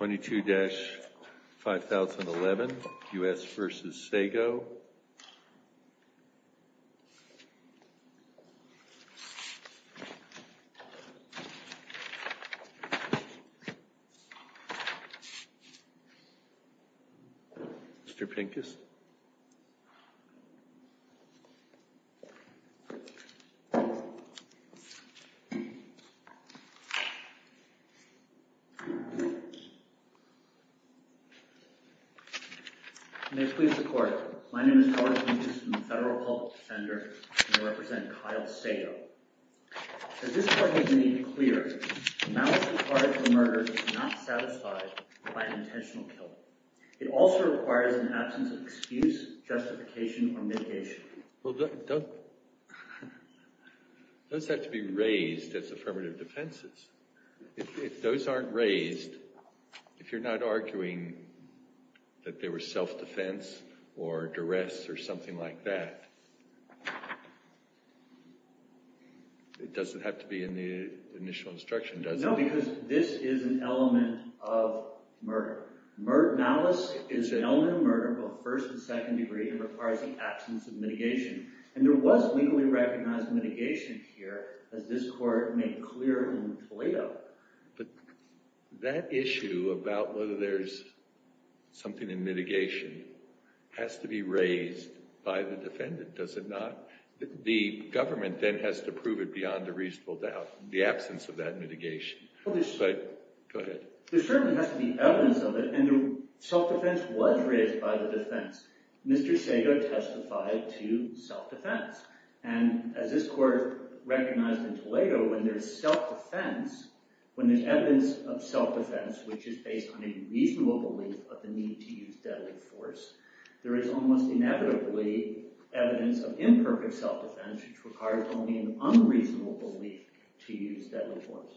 22-5011 U.S. v. Sago Mr. Pincus My name is Howard Pincus. I'm a Federal Public Defender and I represent Kyle Sago. As this court has made clear, the malice required for a murder is not satisfied by an intentional kill. It also requires an absence of excuse, justification, or mitigation. Well, those have to be raised as affirmative defenses. If those aren't raised, if you're not arguing that they were self-defense or duress or something like that, it doesn't have to be in the initial instruction, does it? No, because this is an element of murder. Malice is an element of murder, both first and second degree, and requires the absence of mitigation. And there was legally recognized mitigation here, as this court made clear in Toledo. But that issue about whether there's something in mitigation has to be raised by the defendant, does it not? The government then has to prove it beyond a reasonable doubt, the absence of that mitigation. There certainly has to be evidence of it, and self-defense was raised by the defense. Mr. Sago testified to self-defense. And as this court recognized in Toledo, when there's self-defense, when there's evidence of self-defense which is based on a reasonable belief of the need to use deadly force, there is almost inevitably evidence of imperfect self-defense which requires only an unreasonable belief to use deadly force.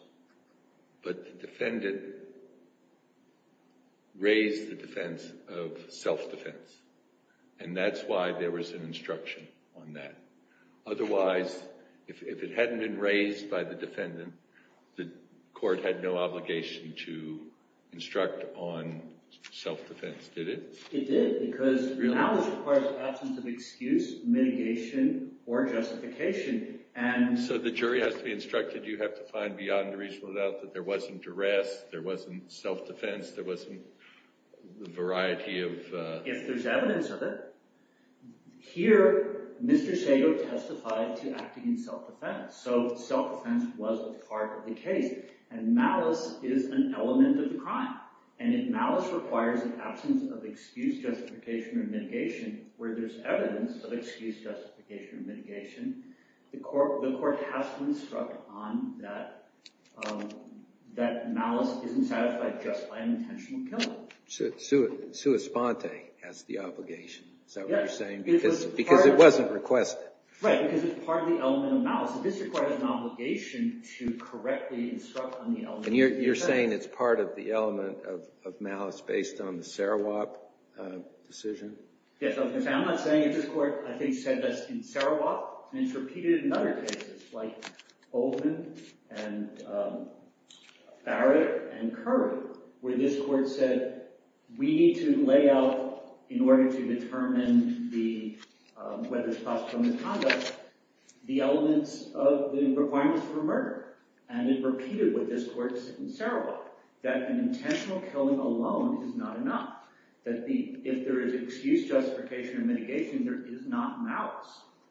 But the defendant raised the defense of self-defense, and that's why there was an instruction on that. Otherwise, if it hadn't been raised by the defendant, the court had no obligation to instruct on self-defense, did it? It did, because malice requires the absence of excuse, mitigation, or justification. So the jury has to be instructed you have to find beyond a reasonable doubt that there wasn't duress, there wasn't self-defense, there wasn't a variety of… If there's evidence of it. Here, Mr. Sago testified to acting in self-defense, so self-defense was a part of the case. And malice is an element of the crime. And if malice requires the absence of excuse, justification, or mitigation, where there's evidence of excuse, justification, or mitigation, the court has to instruct on that malice isn't satisfied just by an intentional killing. Sua sponte has the obligation, is that what you're saying? Because it wasn't requested. Right, because it's part of the element of malice. And you're saying it's part of the element of malice based on the Sarawak decision? Yes, I'm not saying that this court, I think, said this in Sarawak. And it's repeated in other cases, like Oldham, and Barrett, and Curry, where this court said, we need to lay out, in order to determine whether it's possible misconduct, the elements of the requirements for murder. And it repeated what this court said in Sarawak, that an intentional killing alone is not enough. That if there is excuse, justification, or mitigation, there is not malice.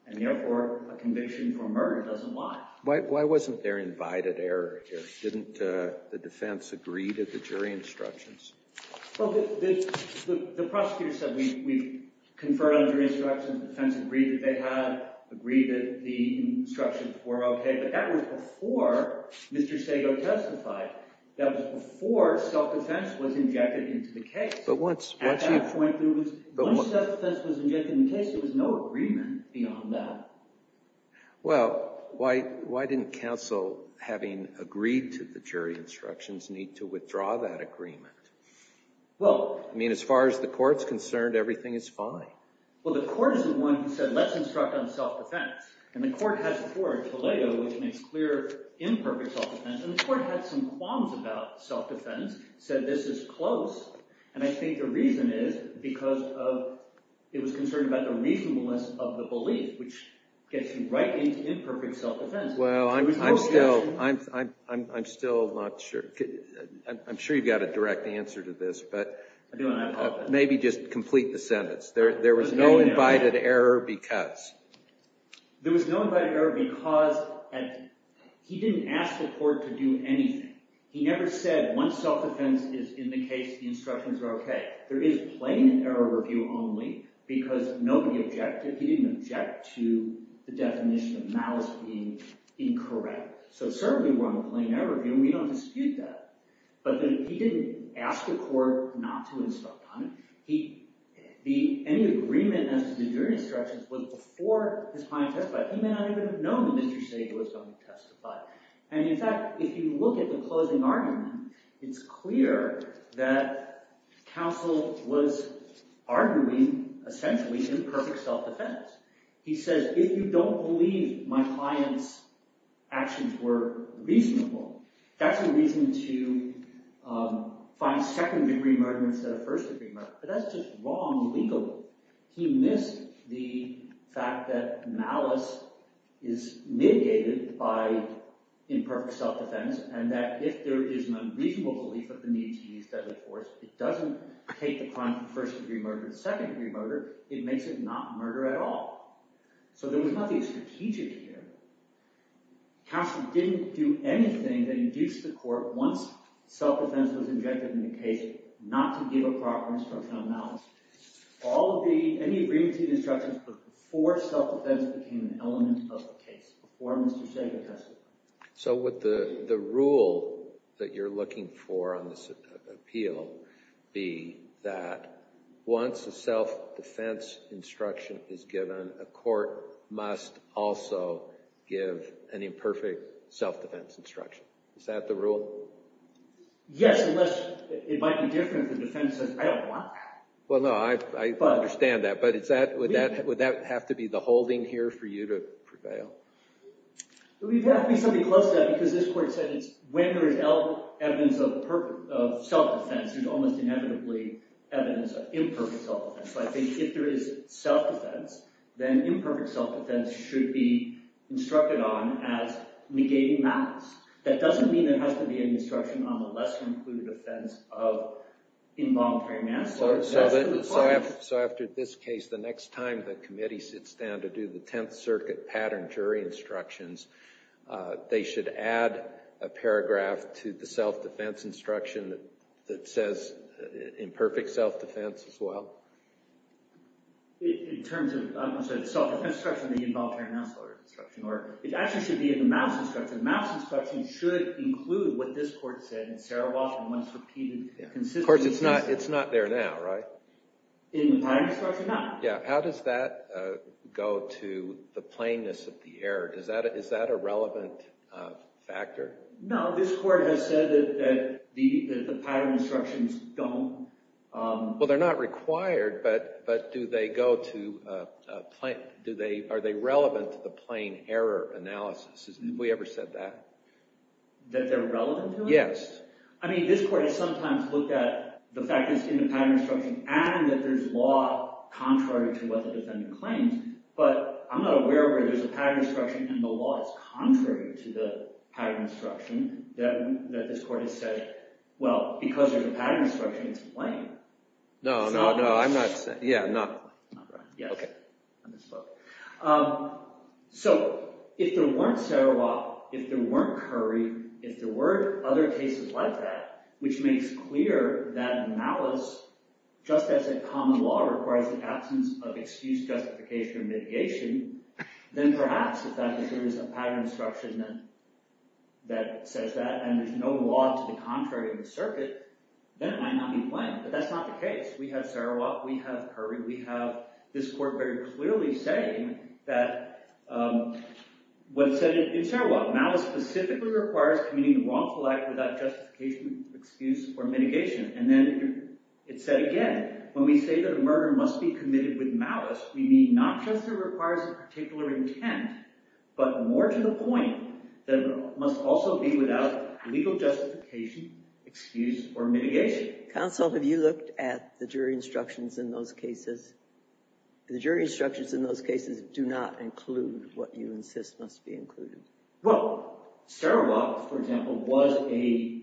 And therefore, a conviction for murder doesn't lie. Why wasn't there invited error here? Didn't the defense agree to the jury instructions? Well, the prosecutor said, we conferred on jury instructions. The defense agreed that they had, agreed that the instructions were OK. But that was before Mr. Sago testified. That was before self-defense was injected into the case. But once self-defense was injected into the case, there was no agreement beyond that. Well, why didn't counsel, having agreed to the jury instructions, need to withdraw that agreement? I mean, as far as the court's concerned, everything is fine. Well, the court is the one who said, let's instruct on self-defense. And the court has before Toledo, which makes clear imperfect self-defense. And the court had some qualms about self-defense, said this is close. And I think the reason is because it was concerned about the reasonableness of the belief, which gets you right into imperfect self-defense. Well, I'm still not sure. I'm sure you've got a direct answer to this. But maybe just complete the sentence. There was no invited error because? There was no invited error because he didn't ask the court to do anything. He never said, once self-defense is in the case, the instructions are OK. There is plain error review only because nobody objected. He didn't object to the definition of malice being incorrect. So certainly we're on a plain error review, and we don't dispute that. But he didn't ask the court not to instruct on it. Any agreement as to the jury instructions was before his client testified. He may not even have known that Mr. Sage was going to testify. And in fact, if you look at the closing argument, it's clear that counsel was arguing, essentially, imperfect self-defense. He says, if you don't believe my client's actions were reasonable, that's a reason to find second-degree murder instead of first-degree murder. But that's just wrong legally. He missed the fact that malice is mitigated by imperfect self-defense, and that if there is an unreasonable belief of the need to use deadly force, it doesn't take the crime from first-degree murder to second-degree murder. It makes it not murder at all. So there was nothing strategic here. Counsel didn't do anything that induced the court, once self-defense was injected in the case, not to give a proper instruction on malice. Any agreement to the instructions was before self-defense became an element of the case, before Mr. Sage testified. So would the rule that you're looking for on this appeal be that once a self-defense instruction is given, a court must also give an imperfect self-defense instruction? Is that the rule? Yes, unless it might be different if the defense says, I don't want that. Well, no, I understand that. But would that have to be the holding here for you to prevail? It would have to be something close to that, because this court said it's when there is evidence of self-defense, there's almost inevitably evidence of imperfect self-defense. So I think if there is self-defense, then imperfect self-defense should be instructed on as negating malice. That doesn't mean there has to be an instruction on the lesser-included offense of involuntary manslaughter. So after this case, the next time the committee sits down to do the Tenth Circuit pattern jury instructions, they should add a paragraph to the self-defense instruction that says imperfect self-defense as well? In terms of self-defense instruction, the involuntary manslaughter instruction. Or it actually should be a malice instruction. Malice instruction should include what this court said in Sarah Walsh and once repeated consistently. Of course, it's not there now, right? In the pattern instruction, no. Yeah, how does that go to the plainness of the error? Is that a relevant factor? No, this court has said that the pattern instructions don't. Well, they're not required, but are they relevant to the plain error analysis? Have we ever said that? That they're relevant to it? Yes. I mean, this court has sometimes looked at the fact that it's in the pattern instruction and that there's law contrary to what the defendant claims. But I'm not aware where there's a pattern instruction and the law is contrary to the pattern instruction that this court has said, well, because there's a pattern instruction, it's a blame. No, no, no. I'm not saying. Yeah, no. Yes. I misspoke. So if there weren't Sarawak, if there weren't Curry, if there weren't other cases like that, which makes clear that malice, just as a common law requires the absence of excuse, justification, or mitigation, then perhaps if there is a pattern instruction that says that and there's no law to the contrary of the circuit, then it might not be blamed. But that's not the case. We have Sarawak. We have Curry. We have this court very clearly saying that what it said in Sarawak, malice specifically requires committing the wrongful act without justification, excuse, or mitigation. And then it said again, when we say that a murder must be committed with malice, we mean not just that it requires a particular intent, but more to the point that it must also be without legal justification, excuse, or mitigation. Counsel, have you looked at the jury instructions in those cases? The jury instructions in those cases do not include what you insist must be included. Well, Sarawak, for example, was a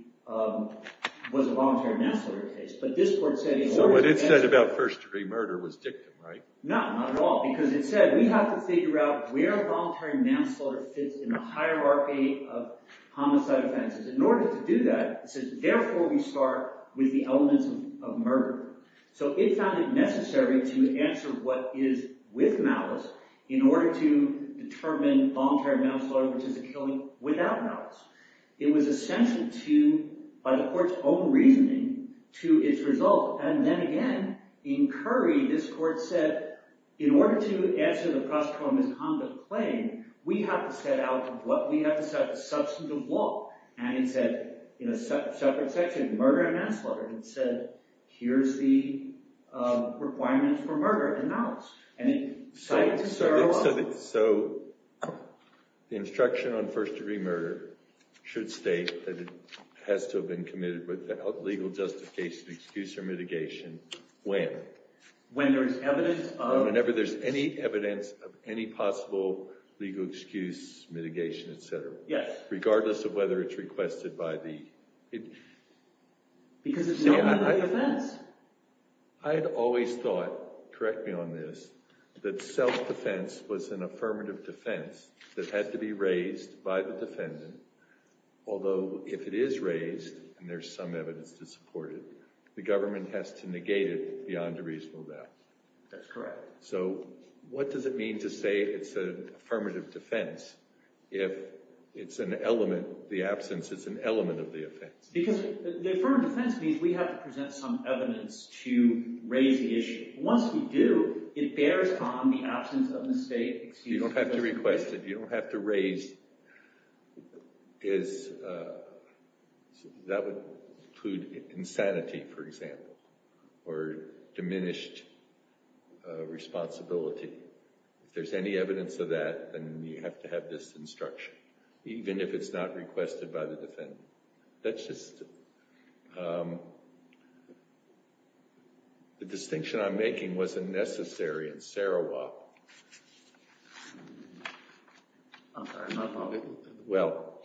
voluntary manslaughter case. But this court said in order to manslaughter. So what it said about first degree murder was dictum, right? No, not at all. Because it said we have to figure out where voluntary manslaughter fits in the hierarchy of homicide offenses. In order to do that, it says, therefore, we start with the elements of murder. So it found it necessary to answer what is with malice in order to determine voluntary manslaughter, which is a killing without malice. It was essential to, by the court's own reasoning, to its result. And then again, in Curry, this court said, in order to answer the prostitution misconduct claim, we have to set out what we have to set as substantive law. And it said, in a separate section, murder and manslaughter. It said, here's the requirements for murder and malice. So the instruction on first degree murder should state that it has to have been committed without legal justification, excuse, or mitigation when? Whenever there's any evidence of any possible legal excuse, mitigation, et cetera. Yes. Regardless of whether it's requested by the… Because it's not part of the defense. I had always thought, correct me on this, that self-defense was an affirmative defense that had to be raised by the defendant. Although if it is raised, and there's some evidence to support it, the government has to negate it beyond a reasonable doubt. That's correct. So what does it mean to say it's an affirmative defense if it's an element, the absence is an element of the offense? Because the affirmative defense means we have to present some evidence to raise the issue. Once we do, it bears on the absence of mistake, excuse me. You don't have to request it. You don't have to raise, that would include insanity, for example, or diminished responsibility. If there's any evidence of that, then you have to have this instruction, even if it's not requested by the defendant. That's just… The distinction I'm making wasn't necessary in Sarawak. Well,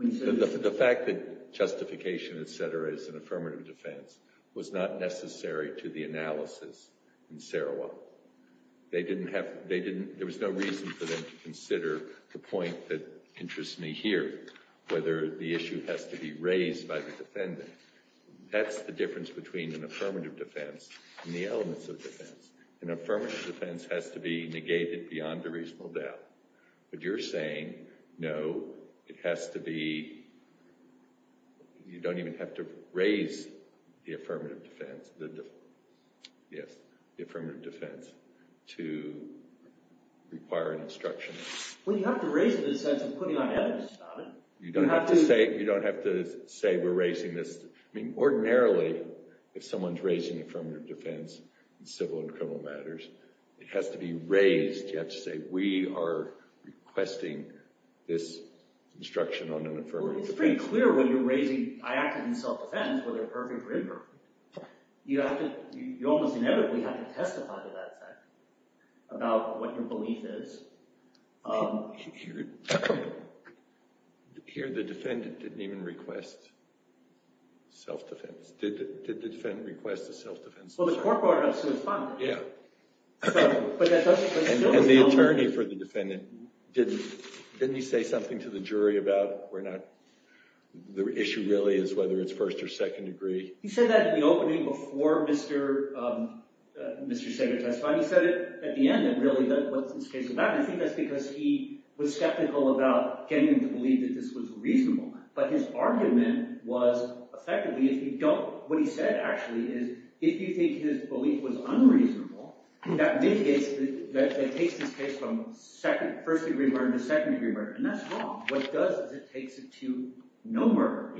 the fact that justification, et cetera, is an affirmative defense was not necessary to the analysis in Sarawak. There was no reason for them to consider the point that interests me here, whether the issue has to be raised by the defendant. That's the difference between an affirmative defense and the elements of defense. An affirmative defense has to be negated beyond a reasonable doubt. But you're saying, no, it has to be, you don't even have to raise the affirmative defense to require an instruction. Well, you have to raise it in the sense of putting on evidence about it. You don't have to say we're raising this. I mean, ordinarily, if someone's raising affirmative defense in civil and criminal matters, it has to be raised. You have to say we are requesting this instruction on an affirmative defense. Well, it's pretty clear when you're raising, I acted in self-defense, whether perfect or imperfect. You almost inevitably have to testify to that fact about what your belief is. Here, the defendant didn't even request self-defense. Did the defendant request a self-defense? Well, the court brought it up, so it's fine. Yeah. And the attorney for the defendant, didn't he say something to the jury about the issue really is whether it's first or second degree? He said that in the opening before Mr. Sager testified. He said it at the end, really, what this case is about. And I think that's because he was skeptical about getting them to believe that this was reasonable. But his argument was effectively, if you don't – what he said, actually, is if you think his belief was unreasonable, that mitigates – that takes this case from first degree murder to second degree murder. And that's wrong. What it does is it takes it to no murder.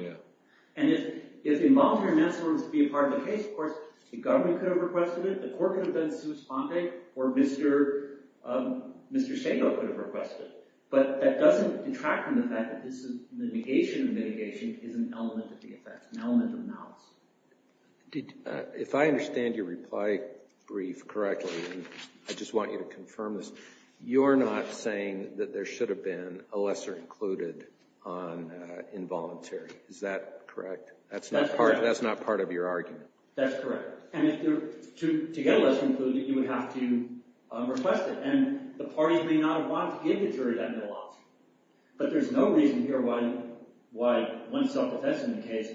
And if involuntary manslaughter was to be a part of the case, of course, the government could have requested it. The court could have been sui sponte, or Mr. Sager could have requested it. But that doesn't detract from the fact that this mitigation of mitigation is an element of the effect, an element of the analysis. If I understand your reply brief correctly, and I just want you to confirm this, you're not saying that there should have been a lesser included on involuntary. Is that correct? That's not part of your argument. That's correct. And if there – to get a lesser included, you would have to request it. And the parties may not have wanted to give the jury that middle option. But there's no reason here why, once self-defense is in the case,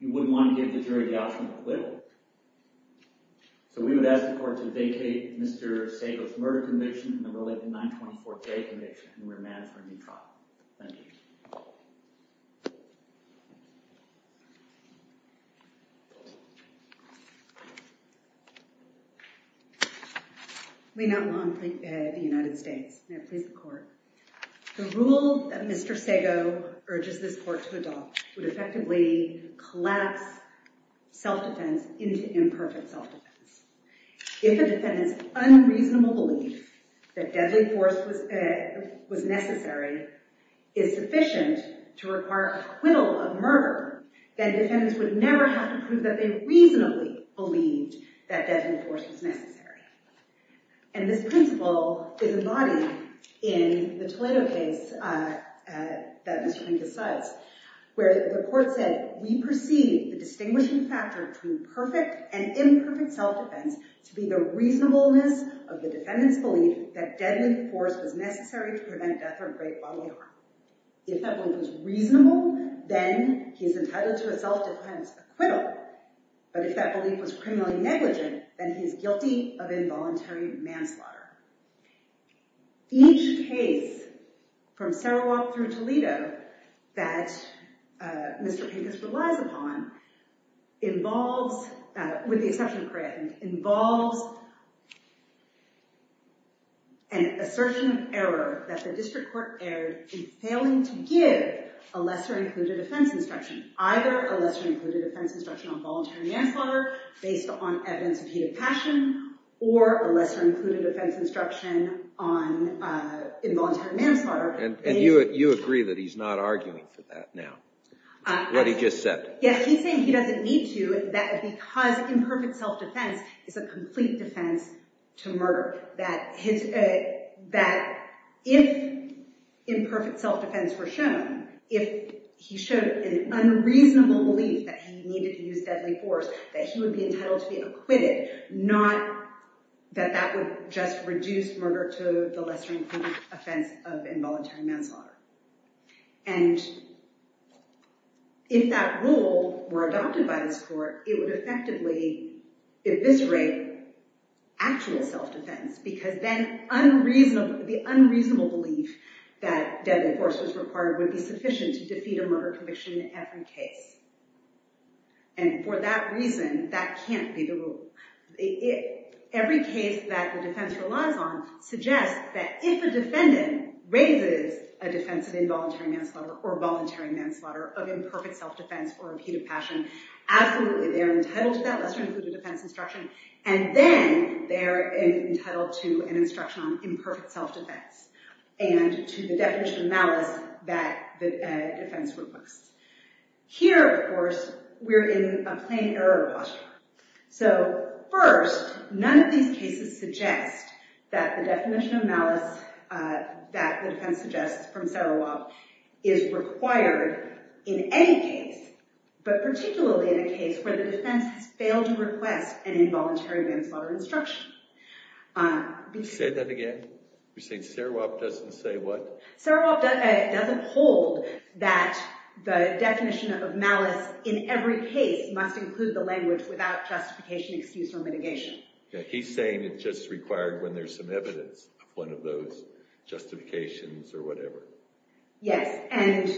you wouldn't want to give the jury the option to quit. So we would ask the court to vacate Mr. Sager's murder conviction and the Willington 924-J conviction, and remand for a new trial. Thank you. We now move on to the United States. May it please the court. The rule that Mr. Sager urges this court to adopt would effectively collapse self-defense into imperfect self-defense. If a defendant's unreasonable belief that deadly force was necessary is sufficient to require acquittal of murder, then defendants would never have to prove that they reasonably believed that deadly force was necessary. And this principle is embodied in the Toledo case that Mr. Finkus cites, where the court said, we perceive the distinguishing factor between perfect and imperfect self-defense to be the reasonableness of the defendant's belief that deadly force was necessary to prevent death or great bodily harm. If that belief was reasonable, then he is entitled to a self-defense acquittal. But if that belief was criminally negligent, then he is guilty of involuntary manslaughter. Each case from Sarawak through Toledo that Mr. Finkus relies upon involves, with the exception of Crayethan, involves an assertion of error that the district court erred in failing to give a lesser-included offense instruction, either a lesser-included offense instruction on voluntary manslaughter based on evidence of heated passion, or a lesser-included offense instruction on involuntary manslaughter. And you agree that he's not arguing for that now, what he just said? Yeah, he's saying he doesn't need to, because imperfect self-defense is a complete defense to murder. That if imperfect self-defense were shown, if he showed an unreasonable belief that he needed to use deadly force, that he would be entitled to be acquitted, not that that would just reduce murder to the lesser-included offense of involuntary manslaughter. And if that rule were adopted by this court, it would effectively eviscerate actual self-defense, because then the unreasonable belief that deadly force was required would be sufficient to defeat a murder conviction in every case. And for that reason, that can't be the rule. Every case that the defense relies on suggests that if a defendant raises a defense of involuntary manslaughter or voluntary manslaughter of imperfect self-defense or repeated passion, absolutely they're entitled to that lesser-included offense instruction, and then they're entitled to an instruction on imperfect self-defense, and to the definition of malice that the defense requests. Here, of course, we're in a plain error posture. So, first, none of these cases suggest that the definition of malice that the defense suggests from Serovoff is required in any case, but particularly in a case where the defense has failed to request an involuntary manslaughter instruction. Say that again? You're saying Serovoff doesn't say what? Yeah, he's saying it's just required when there's some evidence of one of those justifications or whatever. Yes, and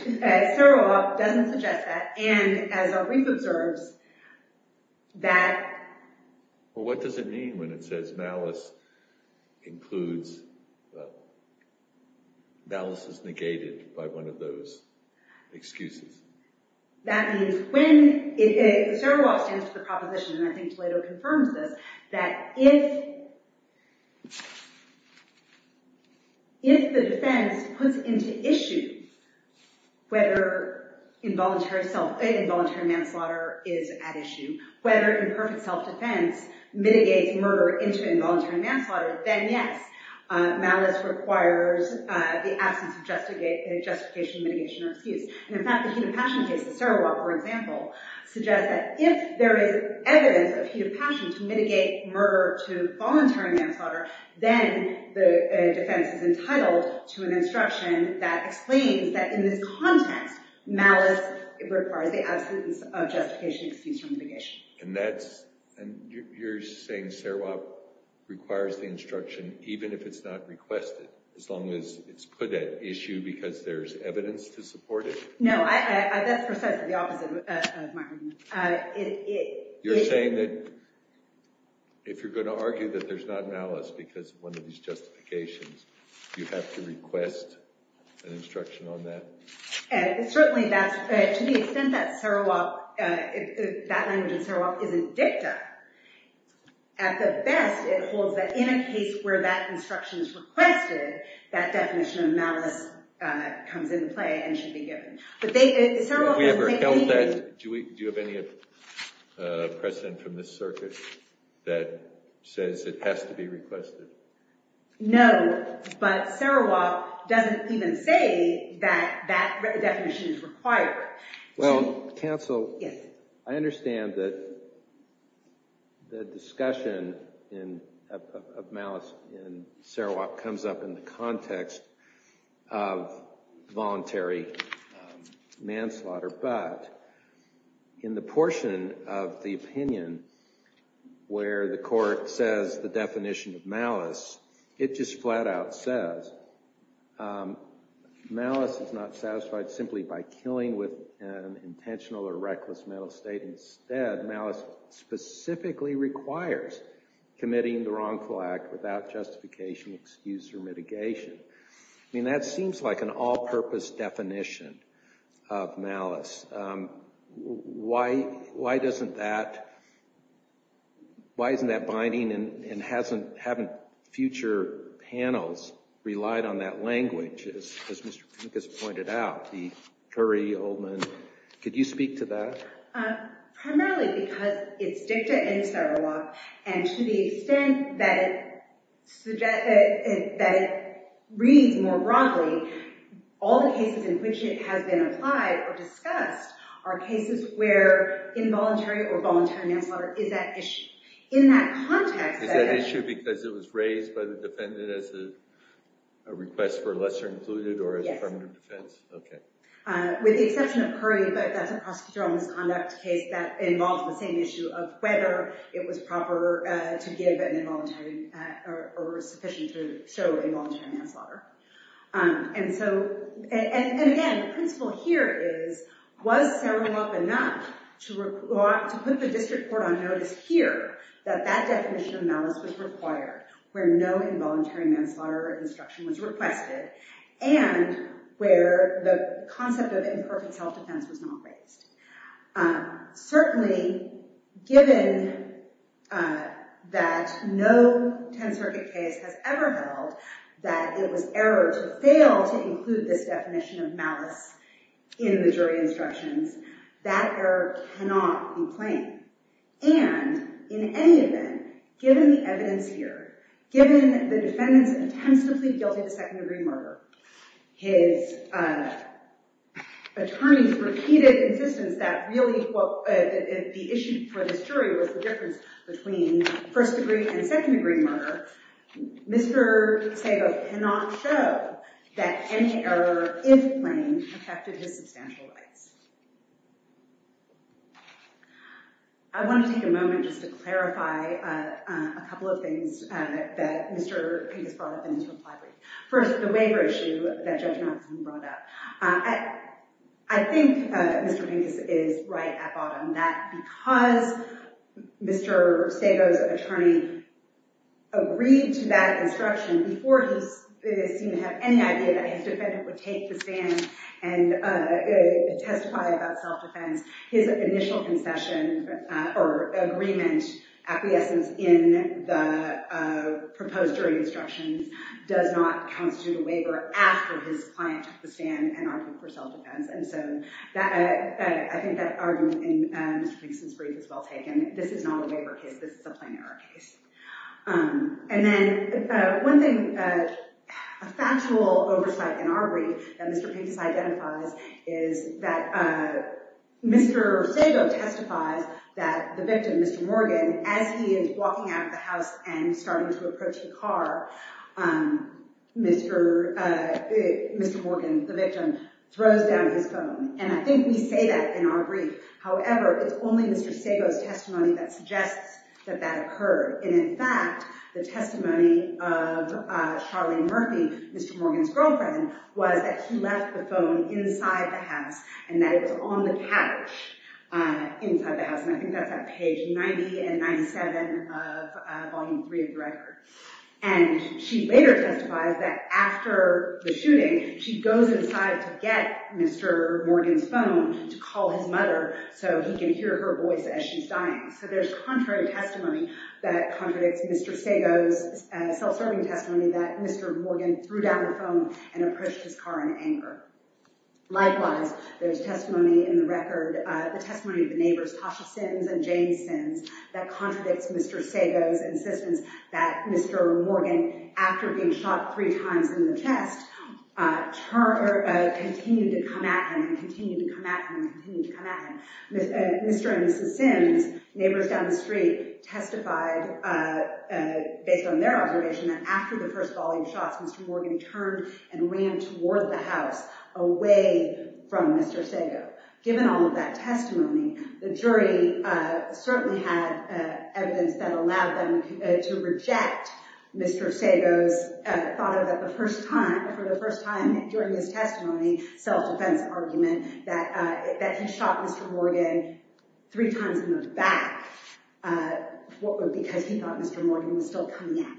Serovoff doesn't suggest that, and as our brief observes, that... Well, what does it mean when it says malice includes... malice is negated by one of those excuses? That means when... Serovoff stands to the proposition, and I think Toledo confirms this, that if the defense puts into issue whether involuntary manslaughter is at issue, whether imperfect self-defense mitigates murder into involuntary manslaughter, then yes, malice requires the absence of justification, mitigation, or excuse. And in fact, the Heated Passion case, the Serovoff, for example, suggests that if there is evidence of heated passion to mitigate murder to involuntary manslaughter, then the defense is entitled to an instruction that explains that in this context, malice requires the absence of justification, excuse, or mitigation. And that's... you're saying Serovoff requires the instruction even if it's not requested, as long as it's put at issue because there's evidence to support it? No, that's precisely the opposite of my argument. You're saying that if you're going to argue that there's not malice because of one of these justifications, you have to request an instruction on that? Certainly that's... to the extent that Serovoff... that language in Serovoff isn't dicta, at the best, it holds that in a case where that instruction is requested, that definition of malice comes into play and should be given. But they... Serovoff... Have we ever held that? Do we... do you have any precedent from this circuit that says it has to be requested? No, but Serovoff doesn't even say that that definition is required. Well, counsel, I understand that the discussion of malice in Serovoff comes up in the context of voluntary manslaughter, but in the portion of the opinion where the court says the definition of malice, it just flat out says malice is not satisfied simply by killing with an intentional or reckless mental state. Instead, malice specifically requires committing the wrongful act without justification, excuse, or mitigation. I mean, that seems like an all-purpose definition of malice. Why doesn't that... why isn't that binding and haven't future panels relied on that language? As Mr. Pincus pointed out, the Curry, Oldman, could you speak to that? Primarily because it's dicta in Serovoff, and to the extent that it reads more broadly, all the cases in which it has been applied or discussed are cases where involuntary or voluntary manslaughter is at issue. In that context... Is that issue because it was raised by the defendant as a request for lesser included or as a permanent defense? Yes. Okay. With the exception of Curry, but that's a prosecutorial misconduct case that involves the same issue of whether it was proper to give an involuntary or sufficient to show involuntary manslaughter. And so... and again, the principle here is, was Serovoff enough to put the district court on notice here that that definition of malice was required, where no involuntary manslaughter or obstruction was requested, and where the concept of imperfect self-defense was not raised. Certainly, given that no 10th Circuit case has ever held that it was error to fail to include this definition of malice in the jury instructions, that error cannot be plain. And, in any event, given the evidence here, given the defendant's attempts to plead guilty to second-degree murder, his attorney's repeated insistence that really the issue for this jury was the difference between first-degree and second-degree murder, Mr. Serov cannot show that any error, if plain, affected his substantial rights. I want to take a moment just to clarify a couple of things that Mr. Pincus brought up in his reply brief. First, the waiver issue that Judge Malkinson brought up. I think Mr. Pincus is right at bottom. That because Mr. Serov's attorney agreed to that instruction before he seemed to have any idea that his defendant would take the stand and testify about self-defense, his initial concession or agreement acquiescence in the proposed jury instructions does not constitute a waiver after his client took the stand and argued for self-defense. And so I think that argument in Mr. Pincus' brief is well taken. This is not a waiver case. This is a plain error case. And then one thing, a factual oversight in our brief that Mr. Pincus identifies is that Mr. Serov testifies that the victim, Mr. Morgan, as he is walking out of the house and starting to approach the car, Mr. Morgan, the victim, throws down his phone. And I think we say that in our brief. However, it's only Mr. Serov's testimony that suggests that that occurred. And in fact, the testimony of Charlene Murphy, Mr. Morgan's girlfriend, was that he left the phone inside the house and that it was on the couch inside the house. And I think that's on page 90 and 97 of Volume 3 of the record. And she later testifies that after the shooting, she goes inside to get Mr. Morgan's phone to call his mother so he can hear her voice as she's dying. So there's contrary testimony that contradicts Mr. Serov's self-serving testimony that Mr. Morgan threw down the phone and approached his car in anger. Likewise, there's testimony in the record, the testimony of the neighbors, Tasha Sims and Jane Sims, that contradicts Mr. Sago's insistence that Mr. Morgan, after being shot three times in the chest, continued to come at him and continued to come at him and continued to come at him. Mr. and Mrs. Sims, neighbors down the street, testified based on their observation that after the first volume shots, Mr. Morgan turned and ran toward the house, away from Mr. Sago. Given all of that testimony, the jury certainly had evidence that allowed them to reject Mr. Sago's thought of the first time, for the first time during his testimony, self-defense argument that he shot Mr. Morgan three times in the back because he thought Mr. Morgan was still coming at him.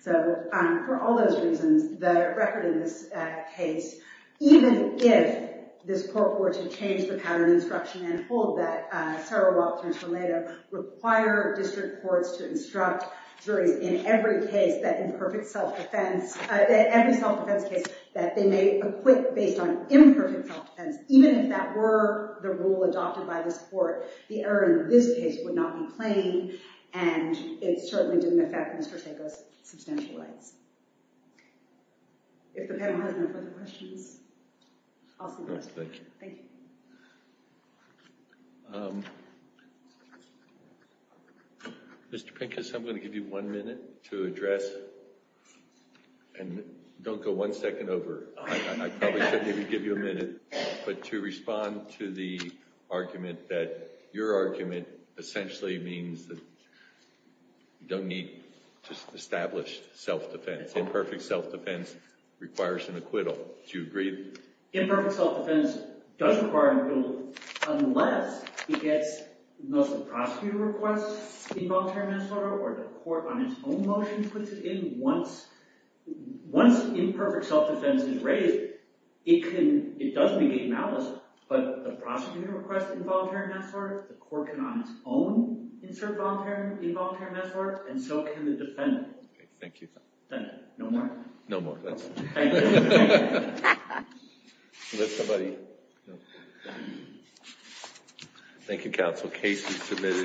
So, for all those reasons, the record in this case, even if this court were to change the pattern of instruction and hold that Serov-Walton-Tornado require district courts to instruct juries in every case that imperfect self-defense, every self-defense case that they may acquit based on imperfect self-defense, even if that were the rule adopted by this court, the error in this case would not be plain and it certainly didn't affect Mr. Sago's substantial rights. If the panel has no further questions, I'll see you next time. Thank you. Thank you. Mr. Pincus, I'm going to give you one minute to address, and don't go one second over. I probably should maybe give you a minute, but to respond to the argument that your argument essentially means that you don't need established self-defense. Imperfect self-defense requires an acquittal. Do you agree? Imperfect self-defense does require an acquittal unless it gets most of the prosecutor requests involuntary manslaughter or the court on its own motion puts it in. Once imperfect self-defense is raised, it doesn't engage malice, but the prosecutor requests involuntary manslaughter, the court can on its own insert involuntary manslaughter, and so can the defendant. Thank you. No more? No more. Thank you, counsel. Case is submitted.